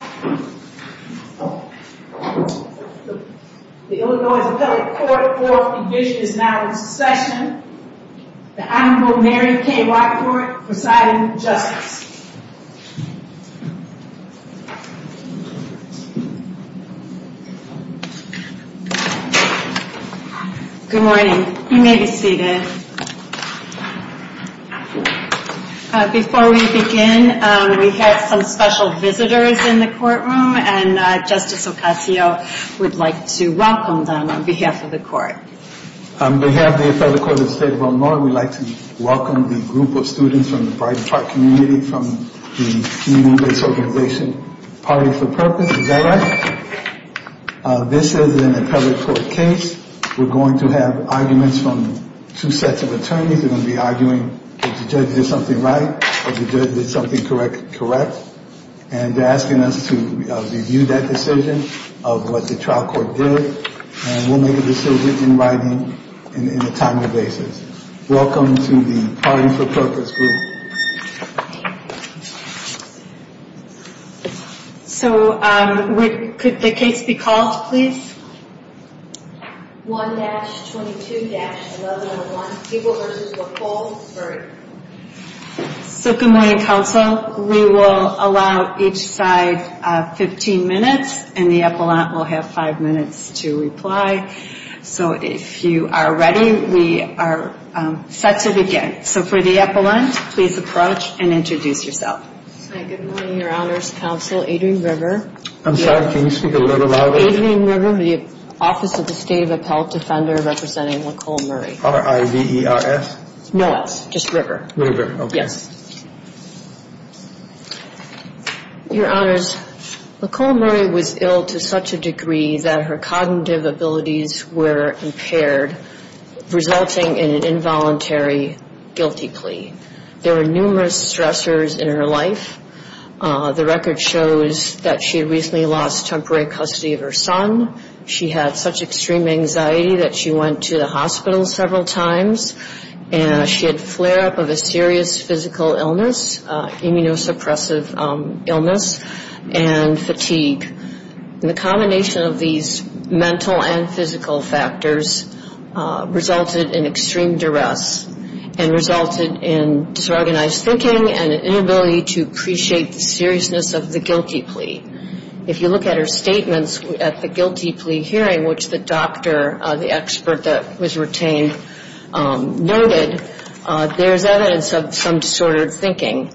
The Illinois Appellate Court Court Division is now in session. The Honorable Mary K. Rockford presiding with justice. Good morning. You may be seated. Before we begin, we have some special visitors in the courtroom and Justice Ocasio would like to welcome them on behalf of the court. We have the appellate court of the state of Illinois. We would like to welcome the group of students from the Brighton Park community from the community-based organization Party for Purpose. Is that right? This is an appellate court case. We're going to have arguments from two sets of attorneys. They're going to be arguing if the judge did something right or if the judge did something correct. And they're asking us to review that decision of what the trial court did. And we'll make a decision in writing in a timely basis. Welcome to the Party for Purpose group. So could the case be called, please? 1-22-11-1. So good morning, counsel. We will allow each side 15 minutes and the appellant will have five minutes to reply. So if you are ready, we are set to begin. So for the appellant, please approach and introduce yourself. Good morning, your honors, counsel. Adrian River. I'm sorry, can you speak a little louder? Adrian River, the office of the state of appellate defender representing Nicole Murray. R-I-V-E-R-S? No S, just River. River, okay. Yes. Your honors, Nicole Murray was ill to such a degree that her cognitive abilities were impaired, resulting in an involuntary guilty plea. There were numerous stressors in her life. The record shows that she recently lost temporary custody of her son. She had such extreme anxiety that she went to the hospital several times and she had flare-up of a serious physical illness, immunosuppressive illness and fatigue. And the combination of these mental and physical factors resulted in extreme duress and resulted in disorganized thinking and an inability to appreciate the seriousness of the guilty plea. If you look at her statements at the guilty plea hearing, which the doctor, the expert that was retained, noted, there's evidence of some disordered thinking,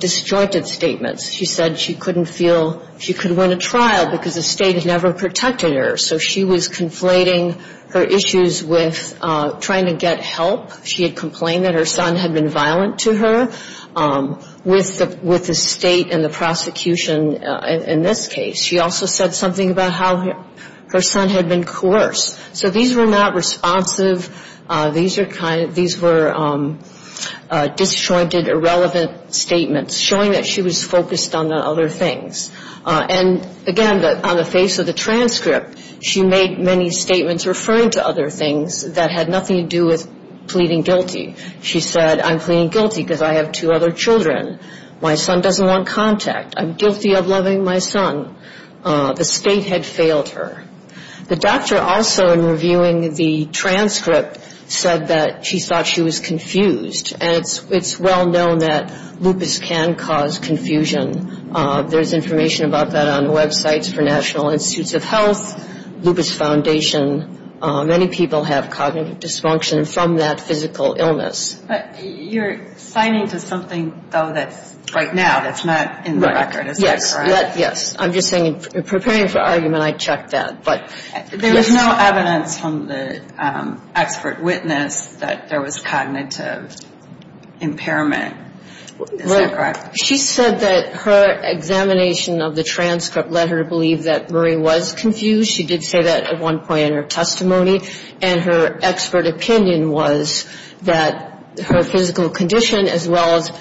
disjointed statements. She said she couldn't feel she could win a trial because the state had never protected her. So she was conflating her issues with trying to get help. She had complained that her son had been violent to her with the state and the prosecution in this case. She also said something about how her son had been coerced. So these were not responsive. These were disjointed, irrelevant statements, showing that she was focused on other things. And again, on the face of the transcript, she made many statements referring to other things that had nothing to do with pleading guilty. She said, I'm pleading guilty because I have two other children. My son doesn't want contact. I'm guilty of loving my son. The state had failed her. The doctor also, in reviewing the transcript, said that she thought she was confused. And it's well known that lupus can cause confusion. There's information about that on websites for National Institutes of Health, Lupus Foundation. Many people have cognitive dysfunction from that physical illness. But you're signing to something, though, that's right now that's not in the record. Is that correct? Yes. Yes. I'm just saying, preparing for argument, I checked that. But yes. There was no evidence from the expert witness that there was cognitive impairment. Is that correct? She said that her examination of the transcript led her to believe that Marie was confused. She did say that at one point in her testimony. And her expert opinion was that her physical condition, as well as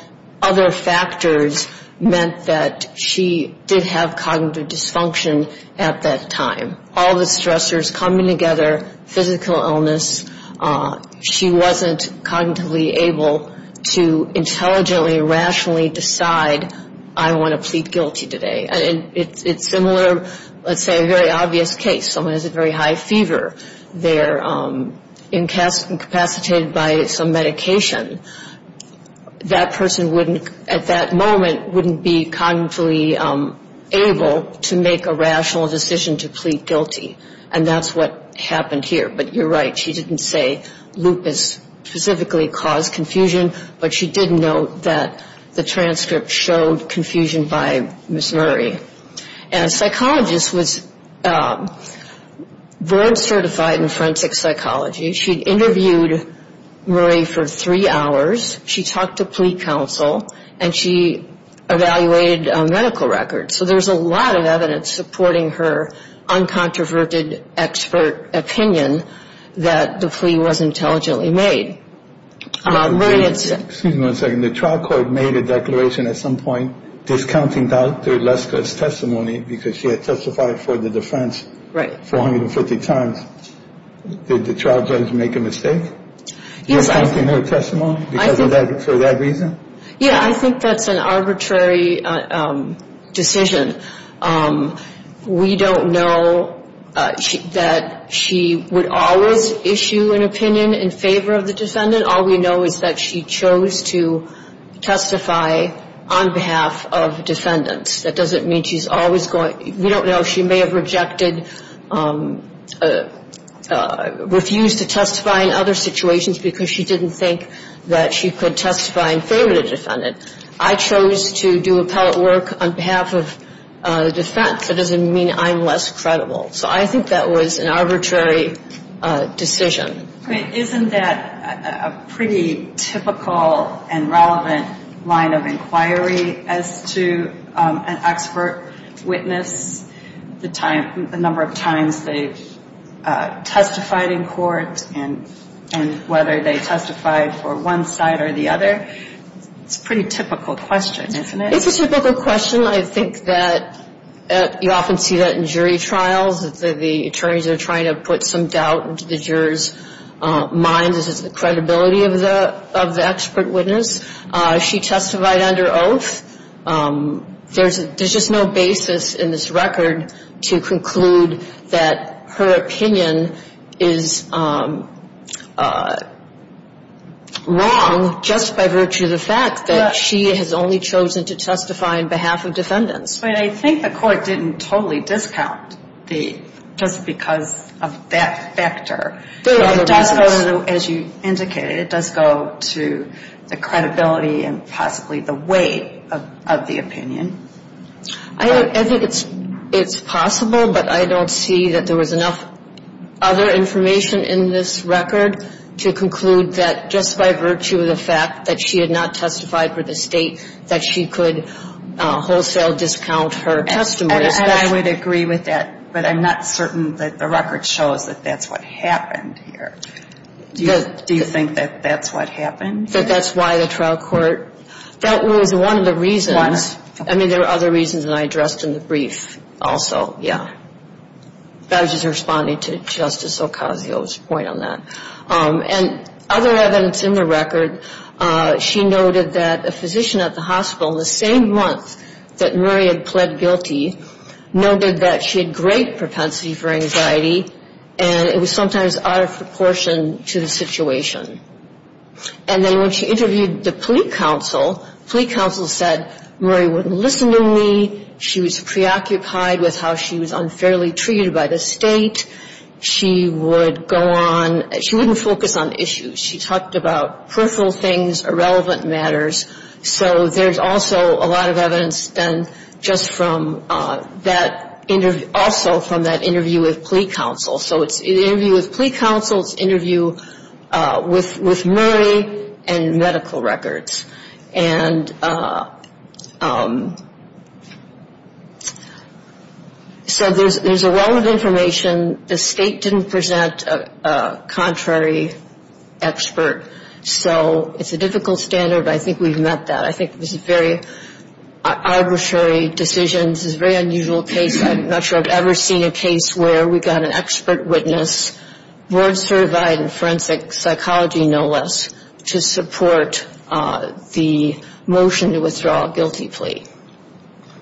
other factors, meant that she did have cognitive dysfunction at that time. All the stressors coming together, physical illness, she wasn't cognitively able to intelligently, rationally decide, I want to plead guilty today. It's similar, let's say, a very obvious case. Someone has a very high fever. They're incapacitated by some medication. That person wouldn't, at that moment, wouldn't be cognitively able to make a rational decision to plead guilty. And that's what happened here. But you're right. She didn't say lupus specifically caused confusion, but she did note that the transcript showed confusion by Ms. Marie. And a psychologist was board certified in forensic psychology. She interviewed Marie for three hours. She talked to plea counsel. And she evaluated medical records. So there's a lot of evidence supporting her uncontroverted expert opinion that the plea was intelligently made. Excuse me one second. The trial court made a declaration at some point discounting Dr. Leska's testimony because she had testified for the defense 450 times. Did the trial judge make a mistake? Yes, I think that's an arbitrary decision. We don't know that she would always issue an opinion in favor of the defendant. All we know is that she chose to testify on behalf of defendants. That doesn't mean she's always going. We don't know. She may have rejected, refused to testify in other situations. Because she didn't think that she could testify in favor of the defendant. I chose to do appellate work on behalf of the defense. That doesn't mean I'm less credible. So I think that was an arbitrary decision. Isn't that a pretty typical and relevant line of inquiry as to an expert witness, the number of times they've testified in court and whether they testified for one side or the other? It's a pretty typical question, isn't it? It's a typical question. I think that you often see that in jury trials. The attorneys are trying to put some doubt into the jurors' minds as to the credibility of the expert witness. She testified under oath. There's just no basis in this record to conclude that her opinion is wrong just by virtue of the fact that she has only chosen to testify under oath. But I think the court didn't totally discount just because of that factor. As you indicated, it does go to the credibility and possibly the weight of the opinion. I think it's possible, but I don't see that there was enough other information in this record to conclude that just by virtue of the fact that she had not testified for the state, that she could wholesale discount her testimony. And I would agree with that, but I'm not certain that the record shows that that's what happened here. Do you think that that's what happened? That that's why the trial court – that was one of the reasons – I mean, there were other reasons that I addressed in the brief also, yeah. I was just responding to Justice Ocasio's point on that. And other evidence in the record, she noted that a physician at the hospital the same month that Murray had pled guilty noted that she had great propensity for anxiety, and it was sometimes out of proportion to the situation. And then when she interviewed the plea counsel, plea counsel said Murray wouldn't listen to me, she was preoccupied with how she was unfairly treated by the state, she would go on – she wouldn't focus on issues. She talked about peripheral things, irrelevant matters, so there's also a lot of evidence done just from that – also from that interview with plea counsel. So it's an interview with plea counsel, it's an interview with Murray, and medical records. And so there's a well of information. The state didn't present a contrary expert, so it's a difficult standard, but I think we've met that. I think it was a very arbitrary decision, this is a very unusual case, I'm not sure I've ever seen a case where we got an expert witness, board certified in forensic psychology no less, to support the motion to withdraw a guilty plea.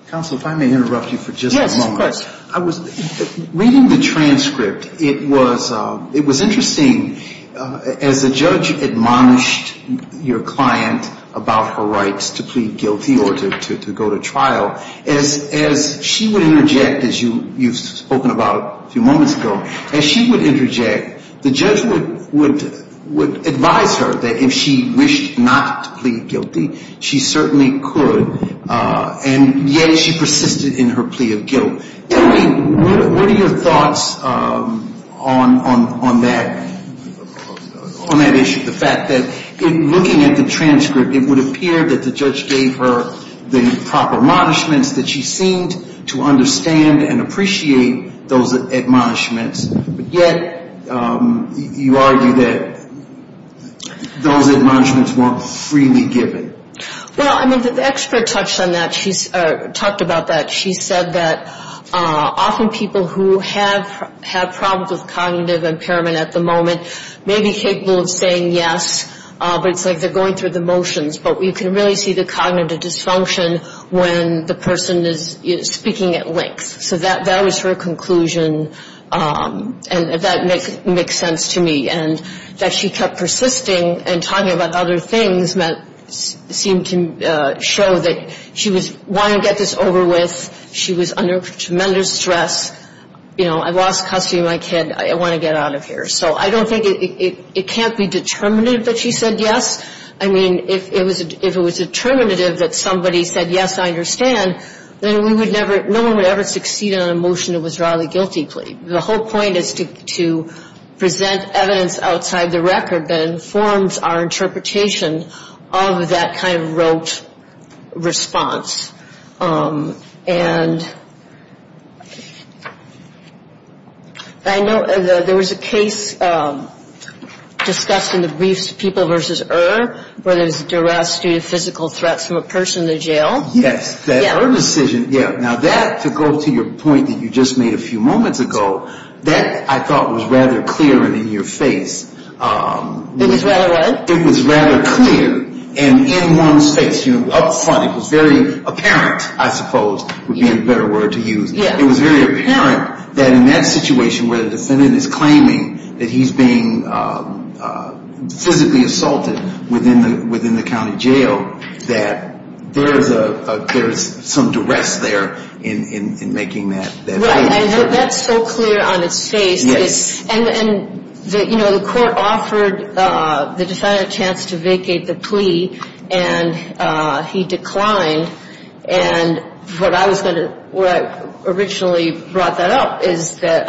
Counsel, if I may interrupt you for just a moment. Yes, of course. Reading the transcript, it was interesting, as the judge admonished your client about her rights to plead guilty or to go to trial, as she would interject, as you've spoken about a few moments ago, as she would interject, the judge would advise her that if she wished not to plead guilty, she certainly could, and yet she persisted in her plea of guilt. What are your thoughts on that issue, the fact that looking at the transcript, it would appear that the judge gave her the proper admonishments, that she seemed to understand and appreciate those admonishments, but yet you argue that those admonishments weren't freely given. Well, the expert talked about that, she said that often people who have problems with cognitive impairment at the moment may be capable of saying yes, but it's like they're going through the motions, but you can really see the cognitive dysfunction when the person is speaking at length. So that was her conclusion, and that makes sense to me, and that she kept persisting and talking about other things seemed to show that she was wanting to get this over with, she was under tremendous stress, you know, I lost custody of my kid, I want to get out of here. So I don't think it can't be determinative that she said yes, I mean, if it was determinative that somebody said yes, I understand, then we would never, no one would ever succeed in a motion that was rather a guilty plea. The whole point is to present evidence outside the record that informs our interpretation of that kind of rote response. And I know there was a case discussed in the briefs, People vs. Er, where there was a duress due to physical threats from a person in the jail. Yes, that her decision, yeah, now that, to go to your point that you just made a few moments ago, that I thought was rather clear and in your face. It was rather what? I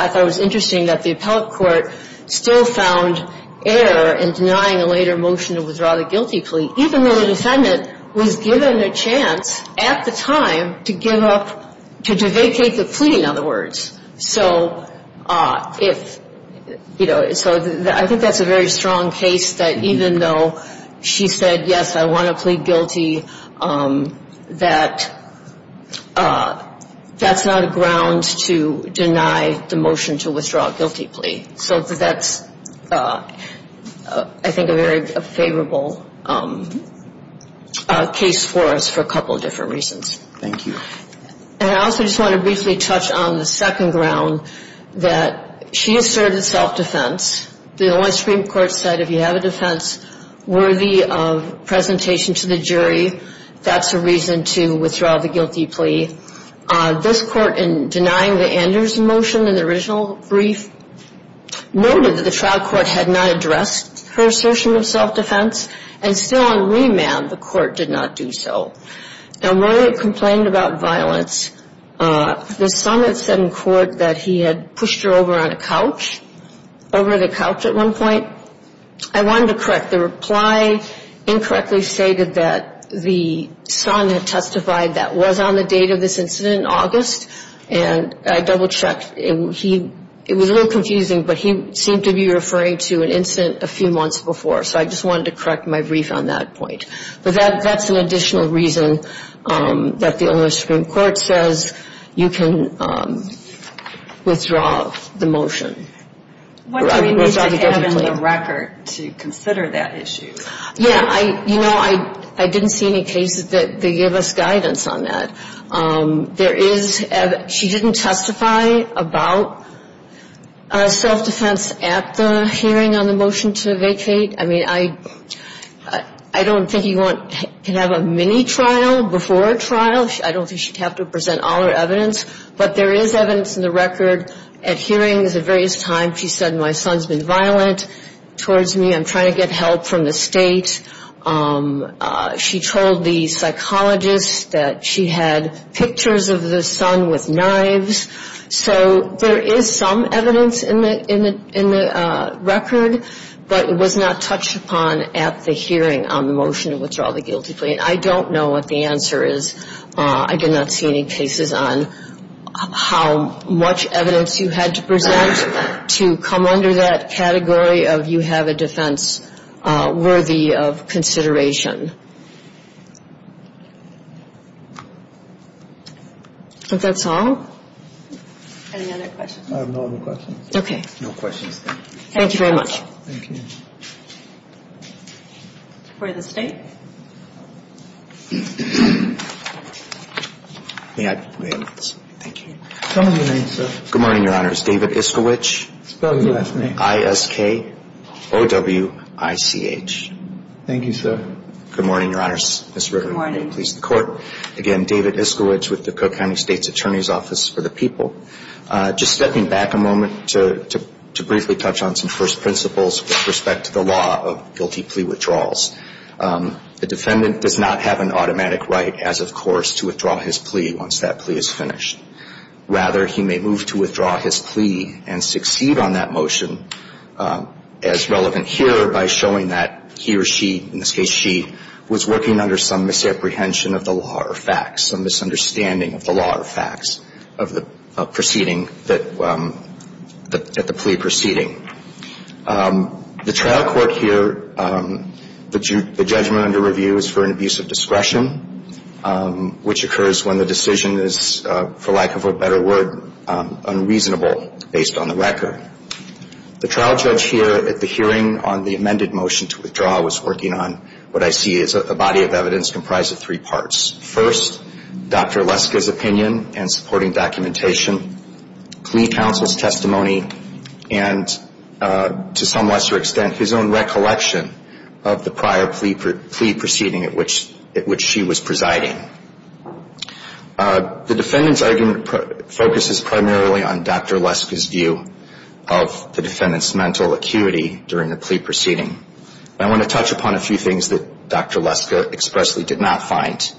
thought it was interesting that the appellate court still found error in denying a later motion to withdraw the guilty plea, even though the defendant was given a chance to make that plea. At the time, to give up, to vacate the plea, in other words. So if, you know, so I think that's a very strong case that even though she said yes, I want to plead guilty, that that's not a ground to deny the motion to withdraw a guilty plea. So that's, I think, a very favorable case for us for a couple of different reasons. Thank you. And I also just want to briefly touch on the second ground that she asserted self-defense. The only Supreme Court said if you have a defense worthy of presentation to the jury, that's a reason to withdraw the guilty plea. This court, in denying the Anders motion in the original brief, noted that the trial court had not addressed her assertion of self-defense, and still on remand, the court did not do so. And while it complained about violence, the son had said in court that he had pushed her over on a couch, over the couch at one point. I wanted to correct the reply, incorrectly stated that the son had testified that was on the date of this incident in August, and I double-checked. And he, it was a little confusing, but he seemed to be referring to an incident a few months before. So I just wanted to correct my brief on that point. But that's an additional reason that the only Supreme Court says you can withdraw the motion. What do we need to have in the record to consider that issue? Yeah, you know, I didn't see any cases that give us guidance on that. There is, she didn't testify about self-defense at the hearing on the motion to vacate. I mean, I don't think you can have a mini-trial before a trial. I don't think she'd have to present all her evidence. But there is evidence in the record at hearings at various times. She said, my son's been violent towards me. I'm trying to get help from the state. She told the psychologist that she had pictures of the son with knives. So there is some evidence in the record, but it was not touched upon at the hearing on the motion to withdraw the guilty plea. I mean, I don't know what the answer is. I did not see any cases on how much evidence you had to present to come under that category of you have a defense worthy of consideration. But that's all. Any other questions? I have no other questions. Okay. No questions. Thank you very much. Thank you. For the state. Good morning, your honors. David Iskowich, I-S-K-O-W-I-C-H. Thank you, sir. Good morning, your honors. Good morning. Again, David Iskowich with the Cook County State's Attorney's Office for the People. Just stepping back a moment to briefly touch on some first principles with respect to the law of guilty plea withdrawals. The defendant does not have an automatic right as of course to withdraw his plea once that plea is finished. Rather, he may move to withdraw his plea and succeed on that motion as relevant here by showing that he or she, in this case she, was working under some misapprehension of the law or facts, some misunderstanding of the law or facts of the proceeding that the plea proceeding. The trial court here, the judgment under review is for an abuse of discretion, which occurs when the decision is, for lack of a better word, unreasonable based on the record. The trial judge here at the hearing on the amended motion to withdraw was working on what I see as a body of evidence comprised of three parts. First, Dr. Leska's opinion and supporting documentation, plea counsel's testimony, and to some lesser extent his own recollection of the prior plea proceeding at which she was presiding. The defendant's argument focuses primarily on Dr. Leska's view of the defendant's mental acuity during the plea proceeding. I want to touch upon a few things that Dr. Leska expressly did not find.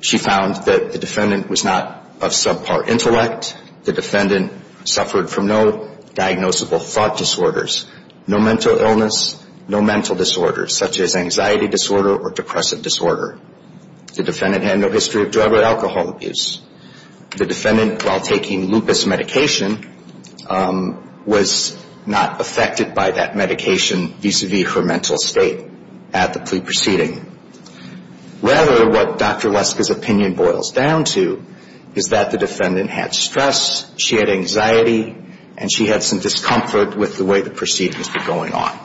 She found that the defendant was not of subpar intellect. The defendant suffered from no diagnosable thought disorders, no mental illness, no mental disorders such as anxiety disorder or depressive disorder. The defendant had no history of drug or alcohol abuse. The defendant, while taking lupus medication, was not affected by that medication vis-à-vis her mental state at the plea proceeding. Rather, what Dr. Leska's opinion boils down to is that the defendant had stress, she had anxiety, and she had some discomfort with the way the proceeding was going on.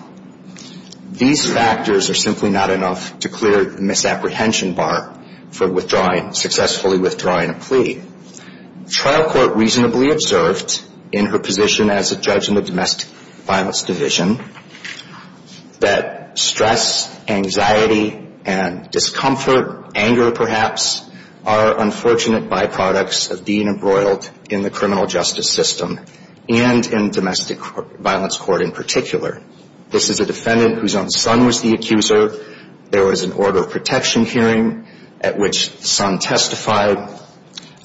These factors are simply not enough to clear the misapprehension bar for successfully withdrawing a plea. Trial court reasonably observed in her position as a judge in the domestic violence division that stress, anxiety, and discomfort, anger perhaps, are unfortunate byproducts of being embroiled in the criminal justice system and in domestic violence court in particular. This is a defendant whose own son was the accuser. There was an order of protection hearing at which the son testified.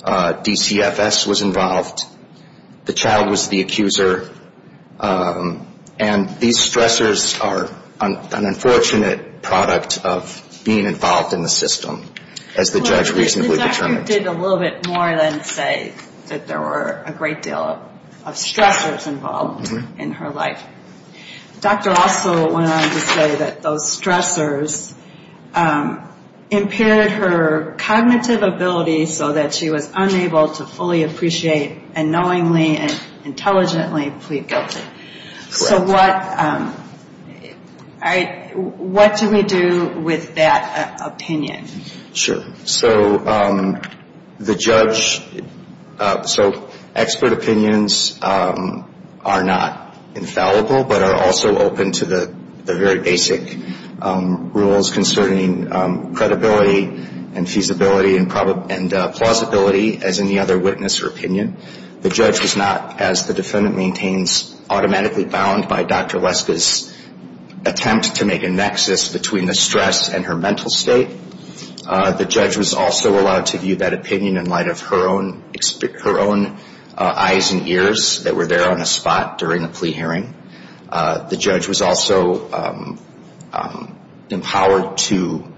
DCFS was involved. The child was the accuser. And these stressors are an unfortunate product of being involved in the system, as the judge reasonably determined. The doctor did a little bit more than say that there were a great deal of stressors involved in her life. The doctor also went on to say that those stressors impaired her cognitive ability so that she was unable to fully appreciate and knowingly and intelligently plead guilty. So what do we do with that opinion? Sure. So the judge, so expert opinions are not infallible, but are also open to the very basic rules concerning credibility and feasibility and plausibility as any other witness or opinion. The judge was not, as the defendant maintains, automatically bound by Dr. Leska's attempt to make a nexus between the stress and her mental state. The judge was also allowed to view that opinion in light of her own eyes and ears that were there on the spot during the plea hearing. The judge was also empowered to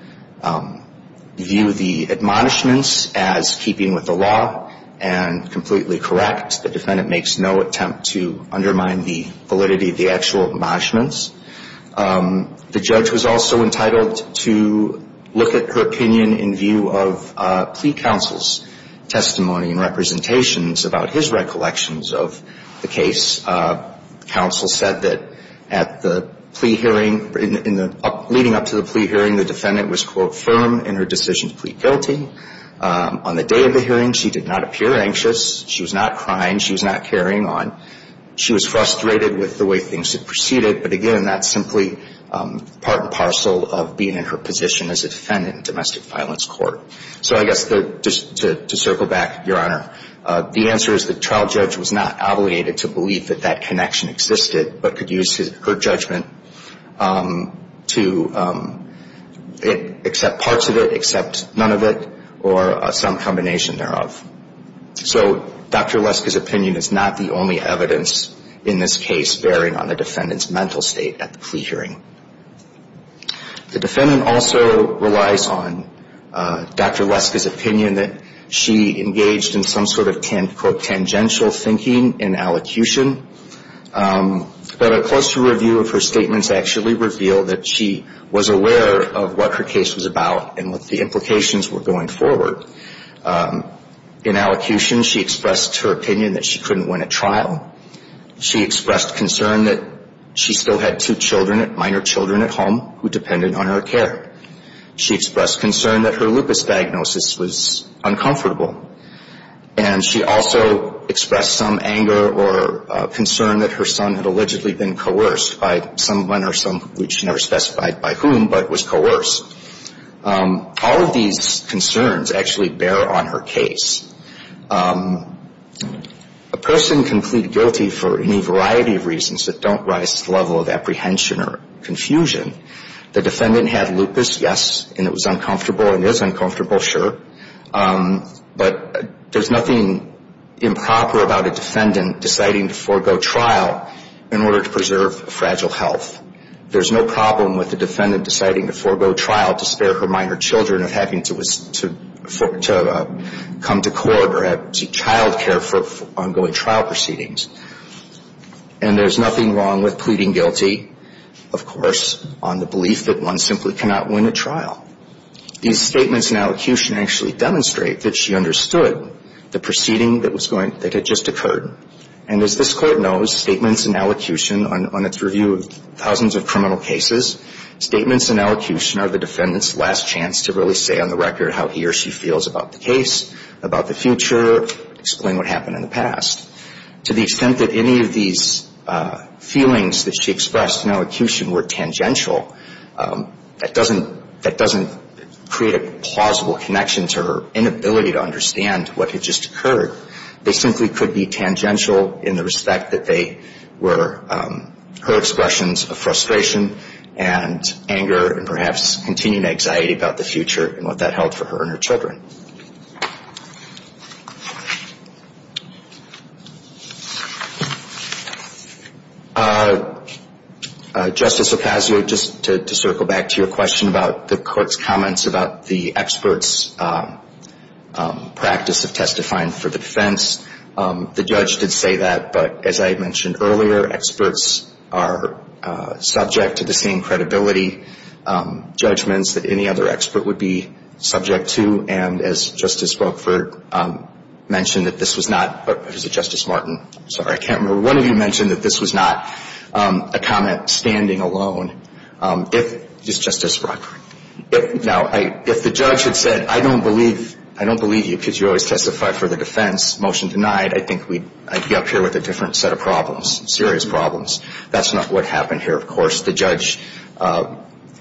view the admonishments as keeping with the law and completely correct. The defendant makes no attempt to undermine the validity of the actual admonishments. The judge was also entitled to look at her opinion in view of plea counsel's testimony and representations about his recollections of the case. Counsel said that at the plea hearing, leading up to the plea hearing, the defendant was, quote, firm in her decision to plead guilty. On the day of the hearing, she did not appear anxious. She was not crying. She was not carrying on. She was frustrated with the way things had proceeded. But, again, that's simply part and parcel of being in her position as a defendant in domestic violence court. So I guess just to circle back, Your Honor, the answer is the trial judge was not obligated to believe that that connection existed but could use her judgment to accept parts of it, accept none of it, or some combination thereof. So Dr. Lesk's opinion is not the only evidence in this case bearing on the defendant's mental state at the plea hearing. The defendant also relies on Dr. Lesk's opinion that she engaged in some sort of, quote, tangential thinking in allocution. But a closer review of her statements actually revealed that she was aware of what her case was about and what the implications were going forward. In allocution, she expressed her opinion that she couldn't win a trial. She expressed concern that she still had two children, minor children at home, who depended on her care. She expressed concern that her lupus diagnosis was uncomfortable. And she also expressed some anger or concern that her son had allegedly been coerced by someone or some which she never specified by whom but was coerced. All of these concerns actually bear on her case. A person can plead guilty for any variety of reasons that don't rise to the level of apprehension or confusion. The defendant had lupus, yes, and it was uncomfortable. It is uncomfortable, sure. But there's nothing improper about a defendant deciding to forego trial in order to preserve fragile health. There's no problem with a defendant deciding to forego trial to spare her minor children of having to come to court or seek child care for ongoing trial proceedings. And there's nothing wrong with pleading guilty, of course, on the belief that one simply cannot win a trial. These statements in allocution actually demonstrate that she understood the proceeding that had just occurred. And as this Court knows, statements in allocution on its review of thousands of criminal cases, statements in allocution are the defendant's last chance to really say on the record how he or she feels about the case, about the future, explain what happened in the past. To the extent that any of these feelings that she expressed in allocution were tangential, that doesn't create a plausible connection to her inability to understand what had just occurred. They simply could be tangential in the respect that they were her expressions of frustration and anger and perhaps continuing anxiety about the future and what that held for her and her children. Justice Ocasio, just to circle back to your question about the Court's comments about the experts' practice of testifying for the defense. The judge did say that, but as I mentioned earlier, experts are subject to the same credibility judgments that any other expert would be subject to. And as Justice Brokford mentioned that this was not, or was it Justice Martin? I'm sorry, I can't remember. One of you mentioned that this was not a comment standing alone. Is Justice Brokford? Now, if the judge had said, I don't believe you because you always testify for the defense, motion denied, I think we'd be up here with a different set of problems, serious problems. That's not what happened here, of course. The judge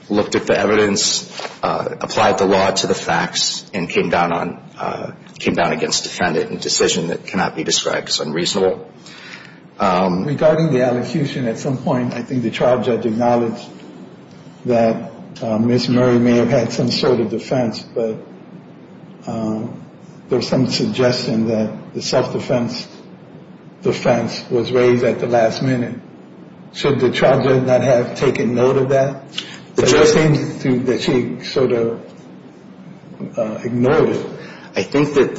looked at the evidence, applied the law to the facts, and came down on, came down against defendant in a decision that cannot be described as unreasonable. Regarding the allocution at some point, I think the trial judge acknowledged that Ms. Murray may have had some sort of defense, but there was some suggestion that the self-defense defense was raised at the last minute. Should the trial judge not have taken note of that? It just seems that she sort of ignored it. I think that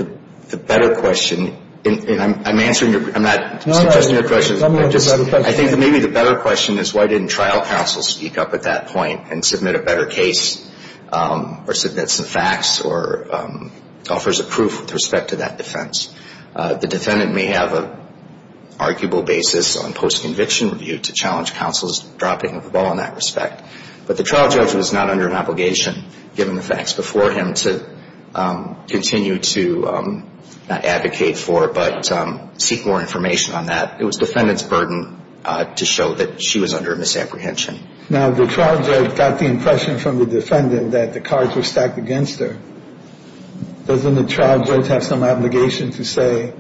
the better question, and I'm answering your, I'm not suggesting your question. No, no. I think maybe the better question is why didn't trial counsel speak up at that point and submit a better case, or submit some facts, or offers a proof with respect to that defense. The defendant may have an arguable basis on post-conviction review to challenge counsel's dropping the ball in that respect. But the trial judge was not under an obligation, given the facts, before him to continue to not advocate for it, but seek more information on that. It was defendant's burden to show that she was under a misapprehension. Now, the trial judge got the impression from the defendant that the cards were stacked against her. Doesn't the trial judge have some obligation to say,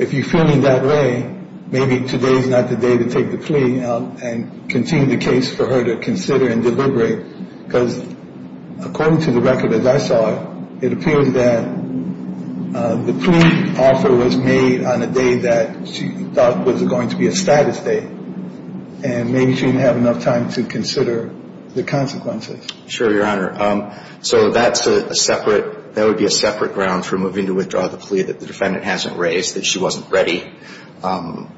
if you feel me that way, maybe today's not the day to take the plea and continue the case for her to consider and deliberate? Because according to the record, as I saw it, it appears that the plea offer was made on a day that she thought was going to be a status date. And maybe she didn't have enough time to consider the consequences. Sure, Your Honor. So that's a separate, that would be a separate ground for moving to withdraw the plea that the defendant hasn't raised, that she wasn't ready.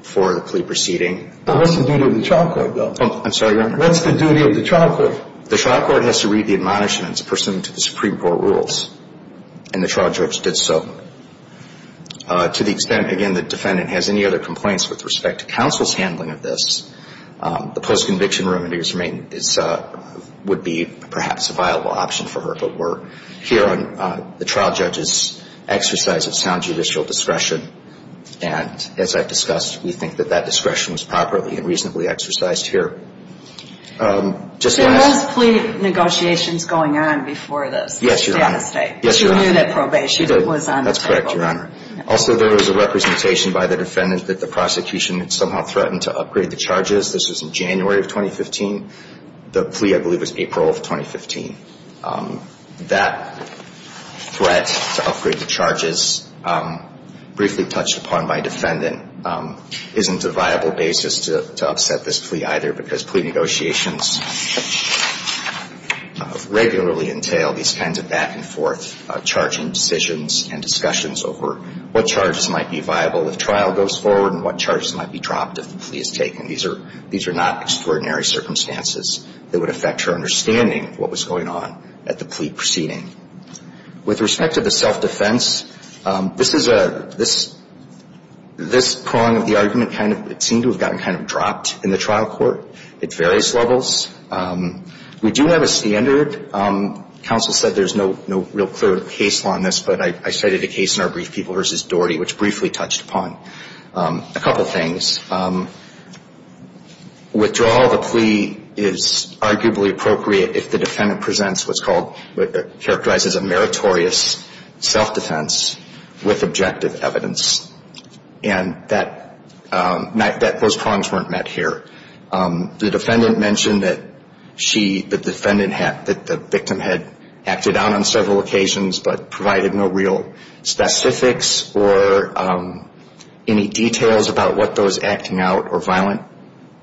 For the plea proceeding. What's the duty of the trial court, though? I'm sorry, Your Honor. What's the duty of the trial court? The trial court has to read the admonishments pursuant to the Supreme Court rules. And the trial judge did so. To the extent, again, the defendant has any other complaints with respect to counsel's handling of this, the post-conviction room would be perhaps a viable option for her. But we're here on the trial judge's exercise of sound judicial discretion. And as I've discussed, we think that that discretion was properly and reasonably exercised here. There was plea negotiations going on before this. Yes, Your Honor. But you knew that probation was on the table. That's correct, Your Honor. Also, there was a representation by the defendant that the prosecution had somehow threatened to upgrade the charges. This was in January of 2015. The plea, I believe, was April of 2015. That threat to upgrade the charges briefly touched upon by defendant isn't a viable basis to upset this plea either, because plea negotiations regularly entail these kinds of back-and-forth charging decisions and discussions over what charges might be viable if trial goes forward and what charges might be dropped if the plea is taken. These are not extraordinary circumstances that would affect her understanding of what was going on at the plea proceeding. With respect to the self-defense, this prong of the argument seemed to have gotten kind of dropped in the trial court at various levels. We do have a standard. Counsel said there's no real clear case law in this, but I cited a case in our brief, People v. Doherty, which briefly touched upon a couple things. Withdrawal of a plea is arguably appropriate if the defendant presents what's called, characterizes a meritorious self-defense with objective evidence. And those prongs weren't met here. The defendant mentioned that the victim had acted out on several occasions but provided no real specifics or any details about what those acting out or violent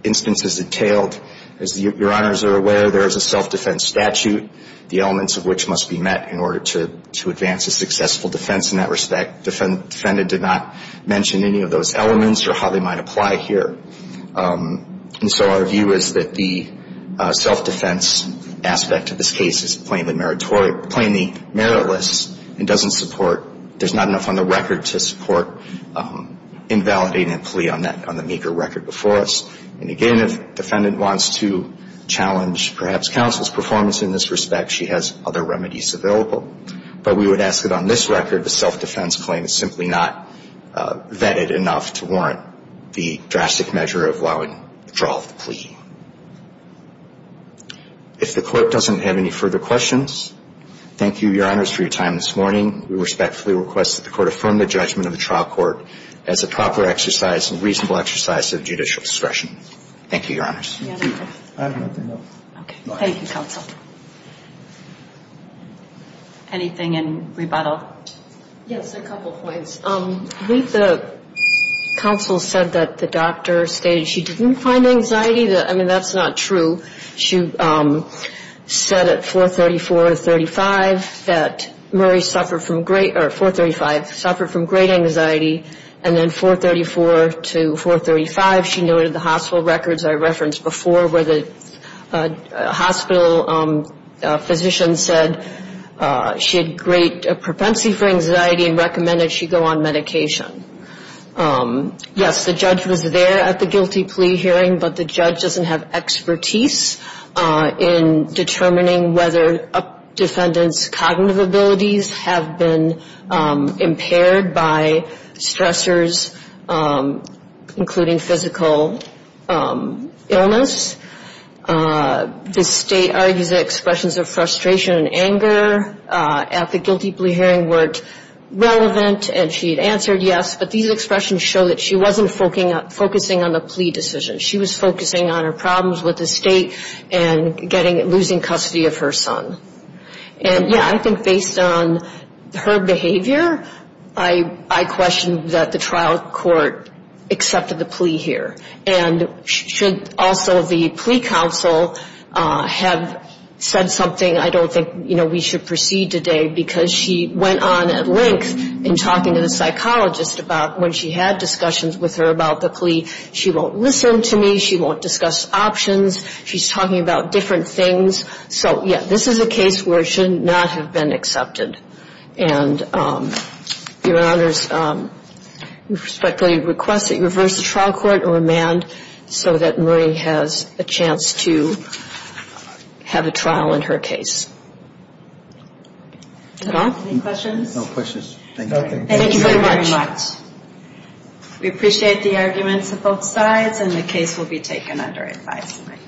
instances entailed. As Your Honors are aware, there is a self-defense statute, the elements of which must be met in order to advance a successful defense in that respect. The defendant did not mention any of those elements or how they might apply here. And so our view is that the self-defense aspect of this case is plainly meritless and doesn't support, there's not enough on the record to support invalidating a plea on that, on the meager record before us. And again, if defendant wants to challenge perhaps counsel's performance in this respect, she has other remedies available. But we would ask that on this record the self-defense claim is simply not vetted enough to warrant the drastic measure of allowing withdrawal of the plea. If the court doesn't have any further questions, thank you, Your Honors, for your time this morning. We respectfully request that the court affirm the judgment of the trial court as a proper exercise and reasonable exercise of judicial discretion. Thank you, Your Honors. I have nothing else. Thank you, counsel. Anything in rebuttal? Yes, a couple points. I believe the counsel said that the doctor stated she didn't find anxiety, I mean, that's not true. She said at 434 or 435 that Murray suffered from great, or 435, suffered from great anxiety, and then 434 to 435 she noted the hospital records I referenced before where the hospital physician said she had great propensity for anxiety and recommended she go on medication. Yes, the judge was there at the guilty plea hearing, but the judge doesn't have expertise in determining whether a defendant's cognitive abilities have been impaired by stressors, including physical illness. The state argues that expressions of frustration and anger at the guilty plea hearing weren't relevant, and she had answered yes, but these expressions show that she wasn't focusing on the plea decision. She was focusing on her problems with the state and losing custody of her son. And, yeah, I think based on her behavior, I question that the trial court accepted the plea here. And should also the plea counsel have said something, I don't think we should proceed today, because she went on at length in talking to the psychologist about when she had discussions with her about the plea, she won't listen to me, she won't discuss options, she's talking about different things. So, yeah, this is a case where it should not have been accepted. And, Your Honors, we respectfully request that you reverse the trial court and remand so that Murray has a chance to have a trial in her case. Any questions? No questions. Thank you. Thank you very much. We appreciate the arguments of both sides, and the case will be taken under advisory.